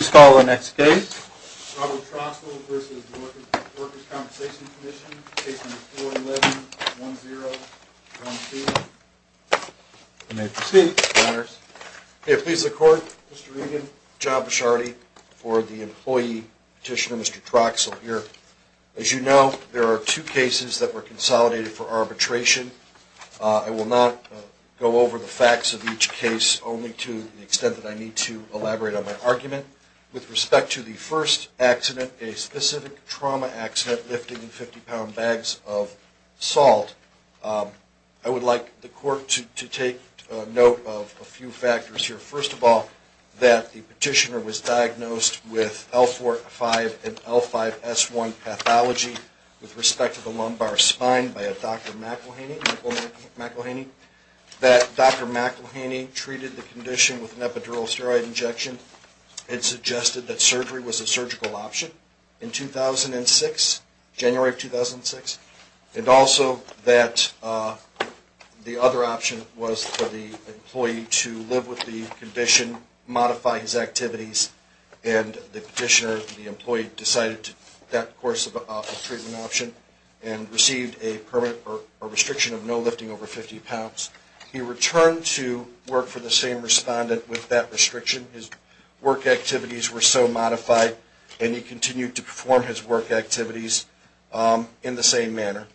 Robert Troxell v. Workers' Comp'n Mr. Regan, John Bishardi for the employee petitioner, Mr. Troxell here. As you know, there are two cases that were consolidated for arbitration. I will not go over the facts of each case, only to the extent that I need to elaborate on my argument. With respect to the first accident, a specific trauma accident, lifting 50-pound bags of salt, I would like the court to take note of a few factors here. First of all, that the petitioner was diagnosed with L4-5 and L5-S1 pathology with respect to the lumbar spine by a Dr. McElhaney. That Dr. McElhaney treated the condition with an epidural steroid injection and suggested that surgery was a surgical option in 2006, January of 2006. And also that the other option was for the employee to live with the condition, modify his activities, and the petitioner, the employee, decided that course of treatment option and received a permit or restriction of no lifting over 50 pounds. He returned to work for the same respondent with that restriction. His work activities were so modified and he continued to perform his work activities in the same manner.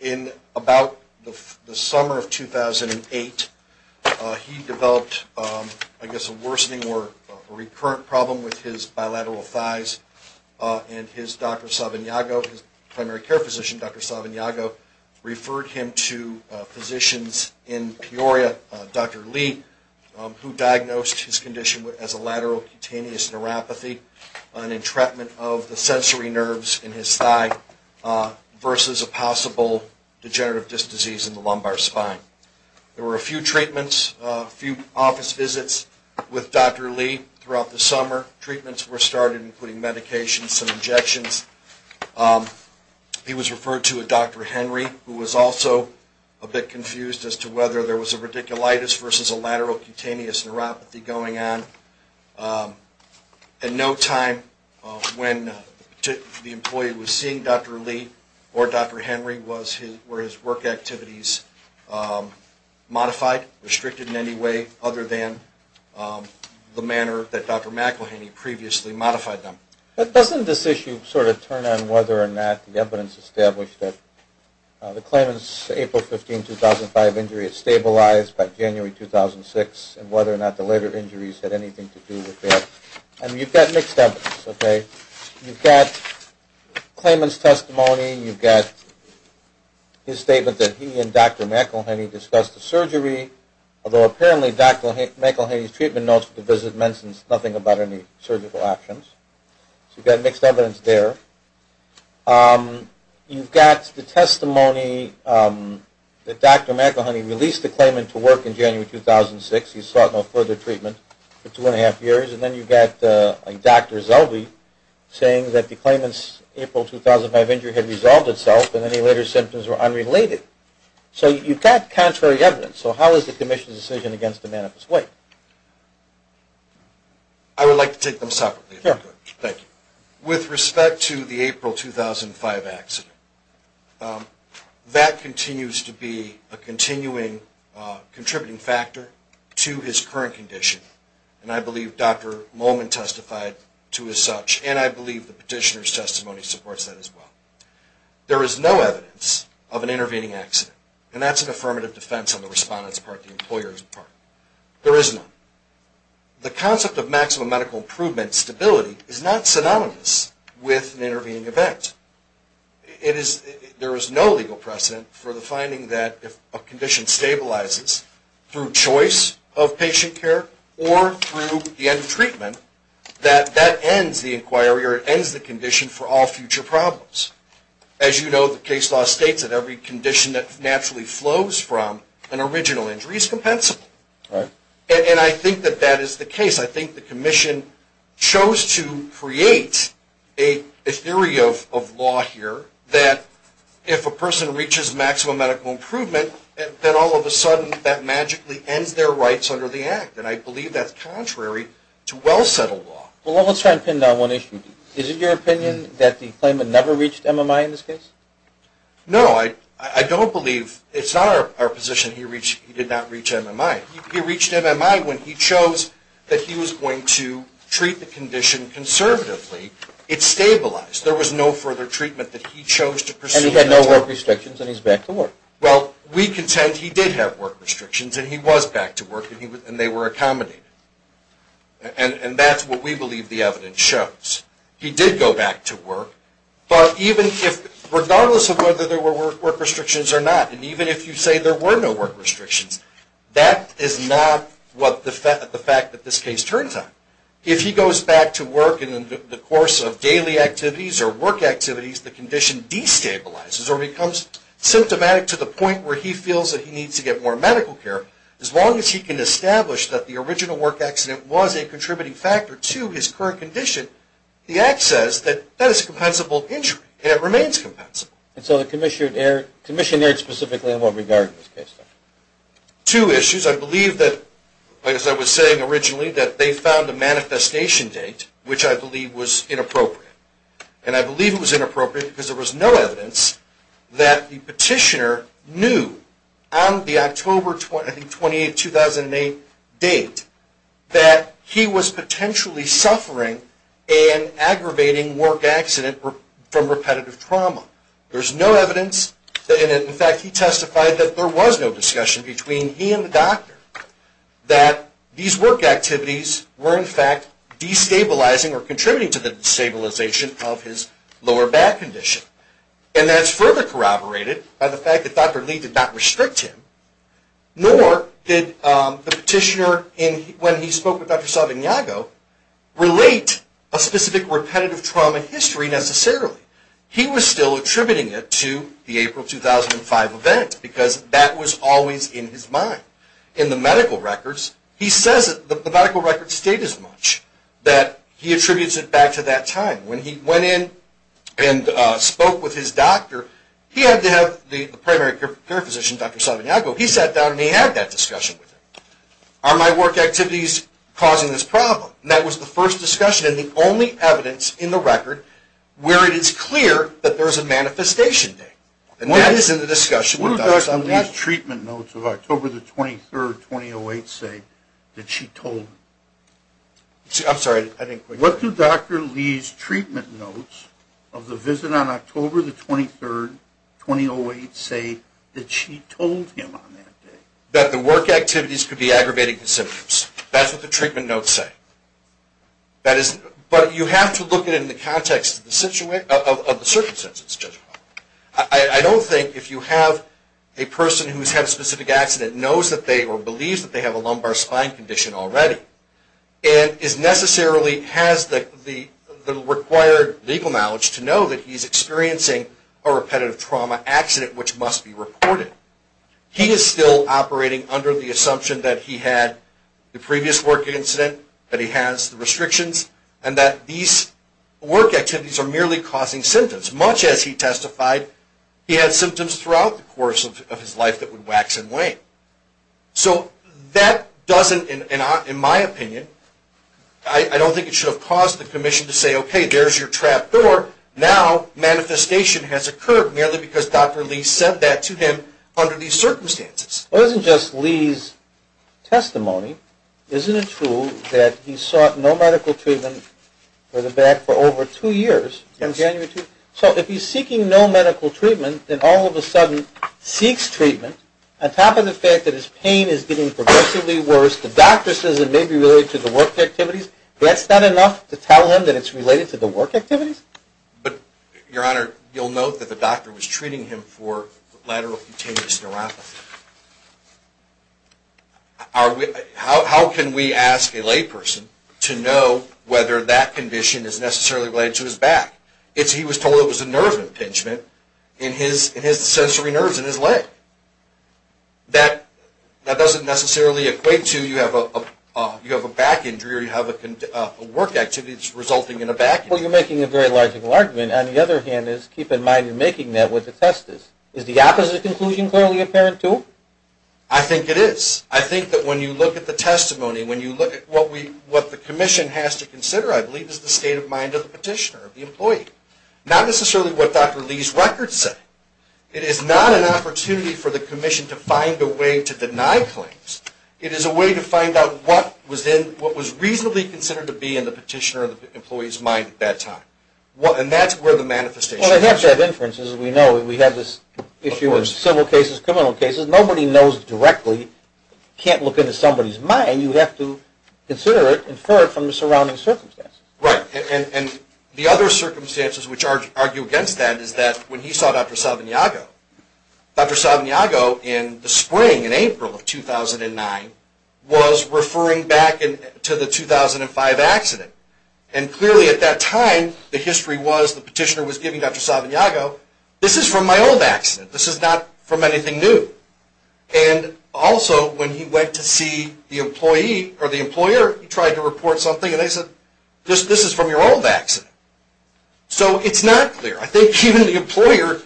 In about the summer of 2008, he developed, I guess, a worsening or recurrent problem with his bilateral thighs. And his Dr. Savignago, his primary care physician, Dr. Savignago, referred him to physicians in Peoria, Dr. Lee, who diagnosed his condition as a lateral cutaneous neuropathy, an entrapment of the sensory nerves in his thigh versus a possible degenerative disc disease in the lumbar spine. There were a few treatments, a few office visits with Dr. Lee throughout the summer. Treatments were started, including medications and injections. He was referred to a Dr. Henry, who was also a bit confused as to whether there was a radiculitis versus a lateral cutaneous neuropathy going on. At no time when the employee was seeing Dr. Lee or Dr. Henry were his work activities modified, restricted in any way other than the manner that Dr. McElhaney previously modified them. But doesn't this issue sort of turn on whether or not the evidence established that the claimant's April 15, 2005 injury had stabilized by January 2006 and whether or not the later injuries had anything to do with that? And you've got mixed evidence, okay? You've got claimant's testimony. You've got his statement that he and Dr. McElhaney discussed the surgery, although apparently Dr. McElhaney's treatment notes for the visit mentioned nothing about any surgical actions. So you've got mixed evidence there. You've got the testimony that Dr. McElhaney released the claimant to work in January 2006. He sought no further treatment for two and a half years. And then you've got Dr. Zellwey saying that the claimant's April 2005 injury had resolved itself and any later symptoms were unrelated. So you've got contrary evidence. So how is the commission's decision against the manifest way? I would like to take them separately, if I could. Sure. With respect to the April 2005 accident, that continues to be a continuing contributing factor to his current condition. And I believe Dr. Molman testified to as such. And I believe the petitioner's testimony supports that as well. There is no evidence of an intervening accident. And that's an affirmative defense on the respondent's part, the employer's part. There is none. The concept of maximum medical improvement stability is not synonymous with an intervening event. There is no legal precedent for the finding that if a condition stabilizes through choice of patient care or through the end of treatment, that that ends the inquiry or it ends the condition for all future problems. As you know, the case law states that every condition that naturally flows from an original injury is compensable. Right. And I think that that is the case. I think the commission chose to create a theory of law here that if a person reaches maximum medical improvement, then all of a sudden that magically ends their rights under the act. And I believe that's contrary to well-settled law. Well, let's try to pin down one issue. Is it your opinion that the claimant never reached MMI in this case? No, I don't believe. It's not our position he did not reach MMI. He reached MMI when he chose that he was going to treat the condition conservatively. It stabilized. There was no further treatment that he chose to pursue. And he had no work restrictions and he's back to work. Well, we contend he did have work restrictions and he was back to work and they were accommodated. And that's what we believe the evidence shows. He did go back to work. But regardless of whether there were work restrictions or not, and even if you say there were no work restrictions, that is not the fact that this case turns out. If he goes back to work in the course of daily activities or work activities, the condition destabilizes or becomes symptomatic to the point where he feels that he needs to get more medical care. As long as he can establish that the original work accident was a contributing factor to his current condition, the act says that that is a compensable injury and it remains compensable. And so the commission erred specifically in what regard in this case? Two issues. I believe that, as I was saying originally, that they found a manifestation date which I believe was inappropriate. And I believe it was inappropriate because there was no evidence that the petitioner knew on the October 28, 2008 date that he was potentially suffering an aggravating work accident from repetitive trauma. There's no evidence, and in fact he testified that there was no discussion between he and the doctor, that these work activities were in fact destabilizing or contributing to the destabilization of his lower back condition. And that's further corroborated by the fact that Dr. Lee did not restrict him, nor did the petitioner, when he spoke with Dr. Saldanago, relate a specific repetitive trauma history necessarily. He was still attributing it to the April 2005 event because that was always in his mind. In the medical records, he says that the medical records state as much, that he attributes it back to that time. When he went in and spoke with his doctor, he had to have the primary care physician, Dr. Saldanago, he sat down and he had that discussion with him. Are my work activities causing this problem? And that was the first discussion and the only evidence in the record where it is clear that there is a manifestation date. And that is in the discussion with Dr. Saldanago. What do Dr. Lee's treatment notes of October 23, 2008 say that she told him? I'm sorry, I didn't quite hear you. What do Dr. Lee's treatment notes of the visit on October 23, 2008 say that she told him on that day? That the work activities could be aggravating the symptoms. That's what the treatment notes say. But you have to look at it in the context of the circumstances. I don't think if you have a person who has had a specific accident, knows that they or believes that they have a lumbar spine condition already, and is necessarily has the required legal knowledge to know that he is experiencing a repetitive trauma accident, which must be reported, he is still operating under the assumption that he had the previous work incident, that he has the restrictions, and that these work activities are merely causing symptoms. Much as he testified, he had symptoms throughout the course of his life that would wax and wane. So that doesn't, in my opinion, I don't think it should have caused the commission to say, okay, there's your trap door. Now, manifestation has occurred merely because Dr. Lee said that to him under these circumstances. Well, it isn't just Lee's testimony. Isn't it true that he sought no medical treatment for the back for over two years, from January 2? So if he's seeking no medical treatment, then all of a sudden seeks treatment, on top of the fact that his pain is getting progressively worse, the doctor says it may be related to the work activities, that's not enough to tell him that it's related to the work activities? But, Your Honor, you'll note that the doctor was treating him for lateral cutaneous neuropathy. How can we ask a layperson to know whether that condition is necessarily related to his back? He was told it was a nerve impingement in his sensory nerves in his leg. That doesn't necessarily equate to you have a back injury or you have work activities resulting in a back injury. Well, you're making a very logical argument. On the other hand, keep in mind you're making that with the testis. Is the opposite conclusion clearly apparent too? I think it is. I think that when you look at the testimony, when you look at what the commission has to consider, I believe it's the state of mind of the petitioner, the employee. Not necessarily what Dr. Lee's records say. It is not an opportunity for the commission to find a way to deny claims. It is a way to find out what was reasonably considered to be in the petitioner or the employee's mind at that time. And that's where the manifestation comes from. Well, they have to have inferences. We know we have this issue with civil cases, criminal cases. Nobody knows directly, can't look into somebody's mind. And you have to consider it, infer it from the surrounding circumstances. Right. And the other circumstances which argue against that is that when he saw Dr. Salvignago, Dr. Salvignago in the spring, in April of 2009, was referring back to the 2005 accident. And clearly at that time the history was the petitioner was giving Dr. Salvignago, this is from my old accident, this is not from anything new. And also when he went to see the employee or the employer, he tried to report something and they said, this is from your old accident. So it's not clear. I think even the employer's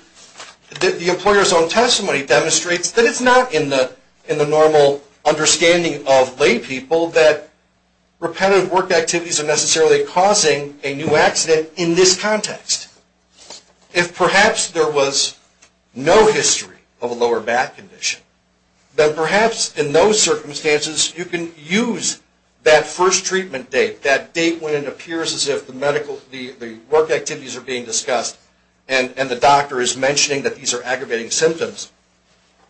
own testimony demonstrates that it's not in the normal understanding of lay people that repetitive work activities are necessarily causing a new accident in this context. If perhaps there was no history of a lower back condition, then perhaps in those circumstances you can use that first treatment date, that date when it appears as if the work activities are being discussed and the doctor is mentioning that these are aggravating symptoms,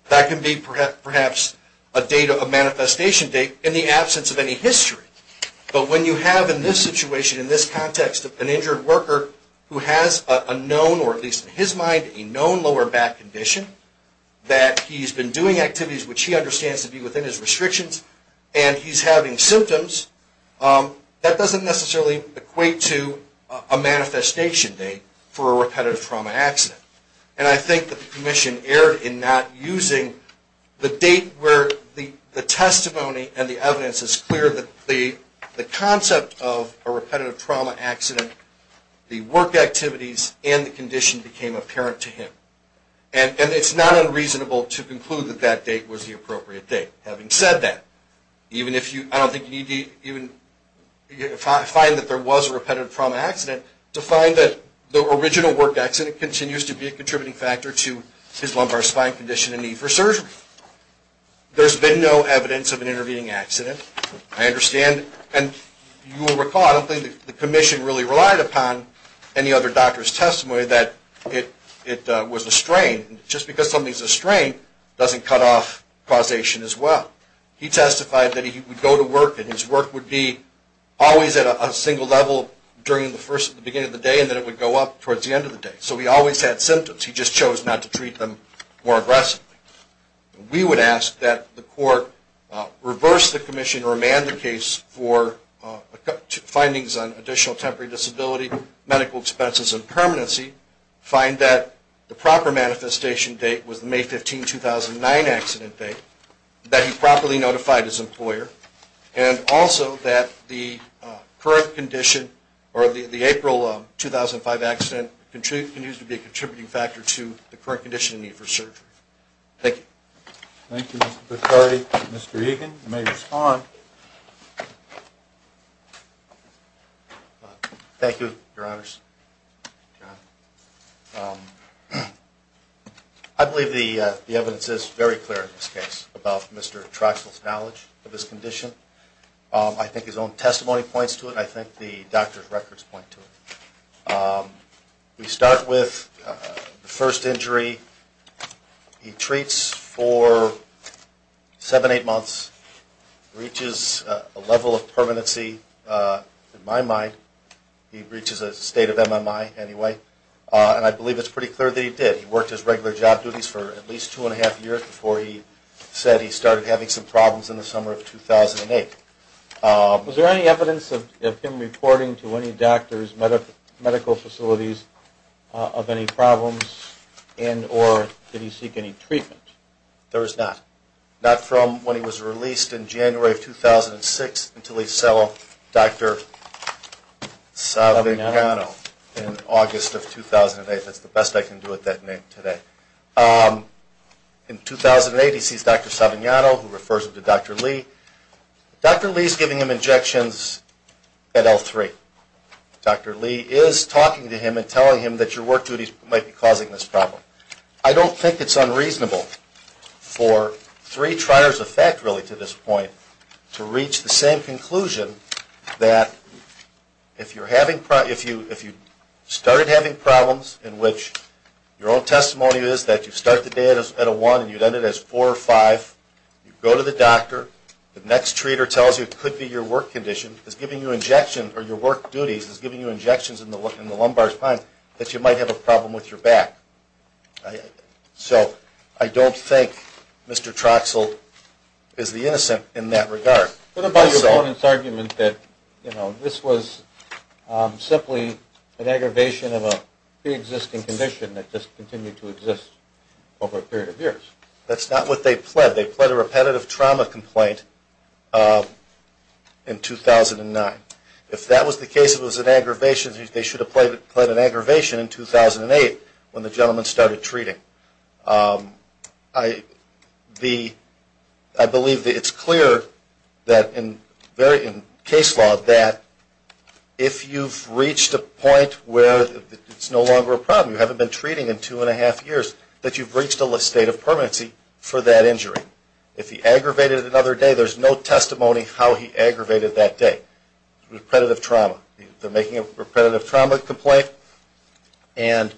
that can be perhaps a manifestation date in the absence of any history. But when you have in this situation, in this context, an injured worker who has a known, or at least in his mind, a known lower back condition, that he's been doing activities which he understands to be within his restrictions, and he's having symptoms, that doesn't necessarily equate to a manifestation date for a repetitive trauma accident. And I think the commission erred in not using the date where the testimony and the evidence is clear that the concept of a repetitive trauma accident, the work activities, and the condition became apparent to him. And it's not unreasonable to conclude that that date was the appropriate date. Having said that, I don't think you need to even find that there was a repetitive trauma accident to find that the original work accident continues to be a contributing factor to his lumbar spine condition and need for surgery. There's been no evidence of an intervening accident. I understand, and you will recall, I don't think the commission really relied upon any other doctor's testimony that it was a strain. Just because something's a strain doesn't cut off causation as well. He testified that he would go to work and his work would be always at a single level during the beginning of the day and then it would go up towards the end of the day. So he always had symptoms, he just chose not to treat them more aggressively. We would ask that the court reverse the commission or amend the case for findings on additional temporary disability, medical expenses, and permanency, find that the proper manifestation date was the May 15, 2009 accident date, that he properly notified his employer, and also that the current condition, or the April 2005 accident, continues to be a contributing factor to the current condition and need for surgery. Thank you. Thank you, Mr. Picardi. Mr. Egan, you may respond. Thank you, Your Honors. I believe the evidence is very clear in this case about Mr. Troxell's knowledge of his condition. I think his own testimony points to it and I think the doctor's records point to it. We start with the first injury. He treats for seven, eight months, reaches a level of permanency, in my mind, he reaches a state of MMI anyway, and I believe it's pretty clear that he did. He worked his regular job duties for at least two and a half years before he said he started having some problems in the summer of 2008. Was there any evidence of him reporting to any doctor's medical facilities of any problems and or did he seek any treatment? There was not, not from when he was released in January of 2006 until he saw Dr. Savignano in August of 2008. That's the best I can do with that name today. In 2008, he sees Dr. Savignano, who refers him to Dr. Lee. Dr. Lee is giving him injections at L3. Dr. Lee is talking to him and telling him that your work duties might be causing this problem. I don't think it's unreasonable for three triers of fact, really, to this point, to reach the same conclusion that if you're having, if you started having problems in which your own testimony is that you start the day at a one and you'd end it as four or five, you go to the doctor, the next treater tells you it could be your work condition, is giving you injections, or your work duties is giving you injections in the lumbar spine, that you might have a problem with your back. So I don't think Mr. Troxell is the innocent in that regard. What about your opponent's argument that this was simply an aggravation of a pre-existing condition that just continued to exist over a period of years? That's not what they pled. They pled a repetitive trauma complaint in 2009. If that was the case, it was an aggravation, they should have pled an aggravation in 2008 when the gentleman started treating. I believe that it's clear that in case law that if you've reached a point where it's no longer a problem, you haven't been treating in two and a half years, that you've reached a state of permanency for that injury. If he aggravated another day, there's no testimony how he aggravated that day. Repetitive trauma. They're making a repetitive trauma complaint, and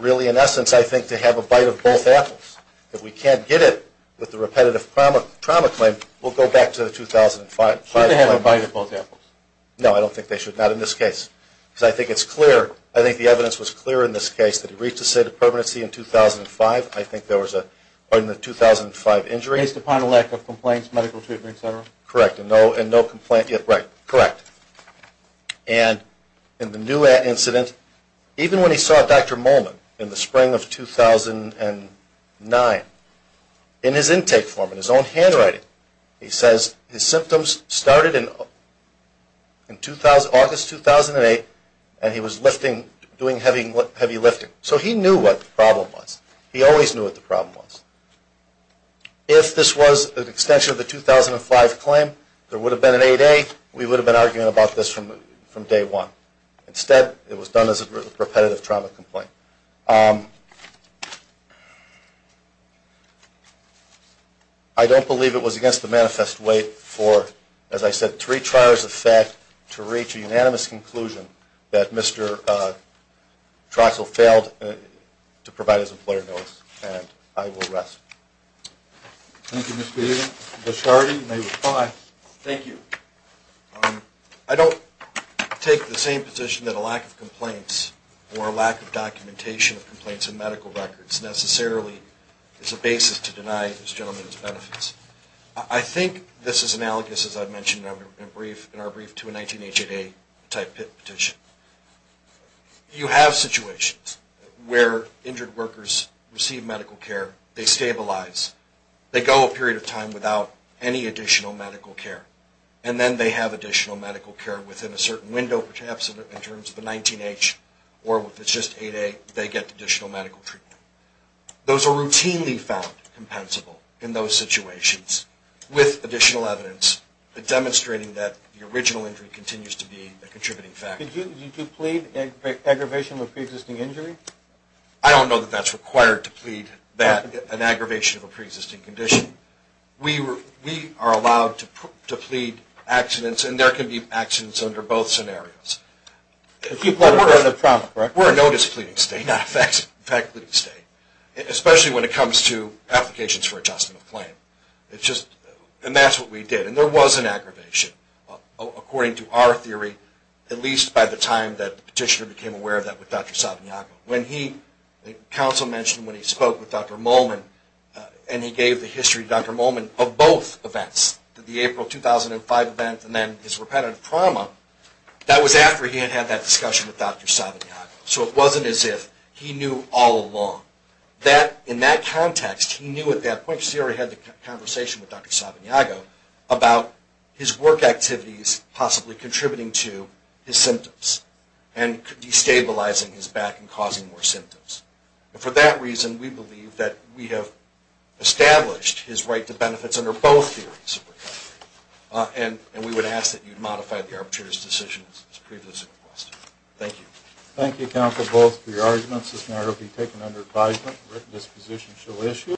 really in essence I think to have a bite of both apples. If we can't get it with the repetitive trauma claim, we'll go back to 2005. Should they have a bite of both apples? No, I don't think they should. Not in this case. Because I think it's clear, I think the evidence was clear in this case, that he reached a state of permanency in 2005. I think there was a 2005 injury. Based upon a lack of complaints, medical treatment, et cetera? Correct, and no complaint yet. Right, correct. And in the new incident, even when he saw Dr. Molman in the spring of 2009, in his intake form, in his own handwriting, he says his symptoms started in August 2008, and he was lifting, doing heavy lifting. So he knew what the problem was. He always knew what the problem was. If this was an extension of the 2005 claim, there would have been an 8A. We would have been arguing about this from day one. Instead, it was done as a repetitive trauma complaint. I don't believe it was against the manifest way for, as I said, to retrial as a fact, to reach a unanimous conclusion, that Mr. Troxell failed to provide his employer notice, and I will rest. Thank you, Mr. Egan. Mr. Shardy, you may reply. Thank you. I don't take the same position that a lack of complaints or a lack of documentation of complaints in medical records necessarily is a basis to deny this gentleman's benefits. I think this is analogous, as I mentioned in our brief, to a 19H, 8A type petition. You have situations where injured workers receive medical care, they stabilize, they go a period of time without any additional medical care, and then they have additional medical care within a certain window, perhaps in terms of the 19H, or if it's just 8A, they get additional medical treatment. Those are routinely found compensable in those situations with additional evidence demonstrating that the original injury continues to be a contributing factor. Did you plead aggravation of a pre-existing injury? I don't know that that's required to plead an aggravation of a pre-existing condition. We are allowed to plead accidents, and there can be accidents under both scenarios. If you plead murder under promise, correct? We're a notice pleading state, not a fact pleading state, especially when it comes to applications for adjustment of claim. And that's what we did. And there was an aggravation, according to our theory, at least by the time that the petitioner became aware of that with Dr. Savignaco. When he, the counsel mentioned when he spoke with Dr. Molman, and he gave the history to Dr. Molman of both events, the April 2005 event and then his repetitive trauma, that was after he had had that discussion with Dr. Savignaco. So it wasn't as if he knew all along. In that context, he knew at that point, because he already had the conversation with Dr. Savignaco, about his work activities possibly contributing to his symptoms and destabilizing his back and causing more symptoms. And for that reason, we believe that we have established his right to benefits under both theories. And we would ask that you modify the arbitrator's decision as previously requested. Thank you. Thank you, counsel, both for your arguments. This matter will be taken under advisement. The written disposition shall issue.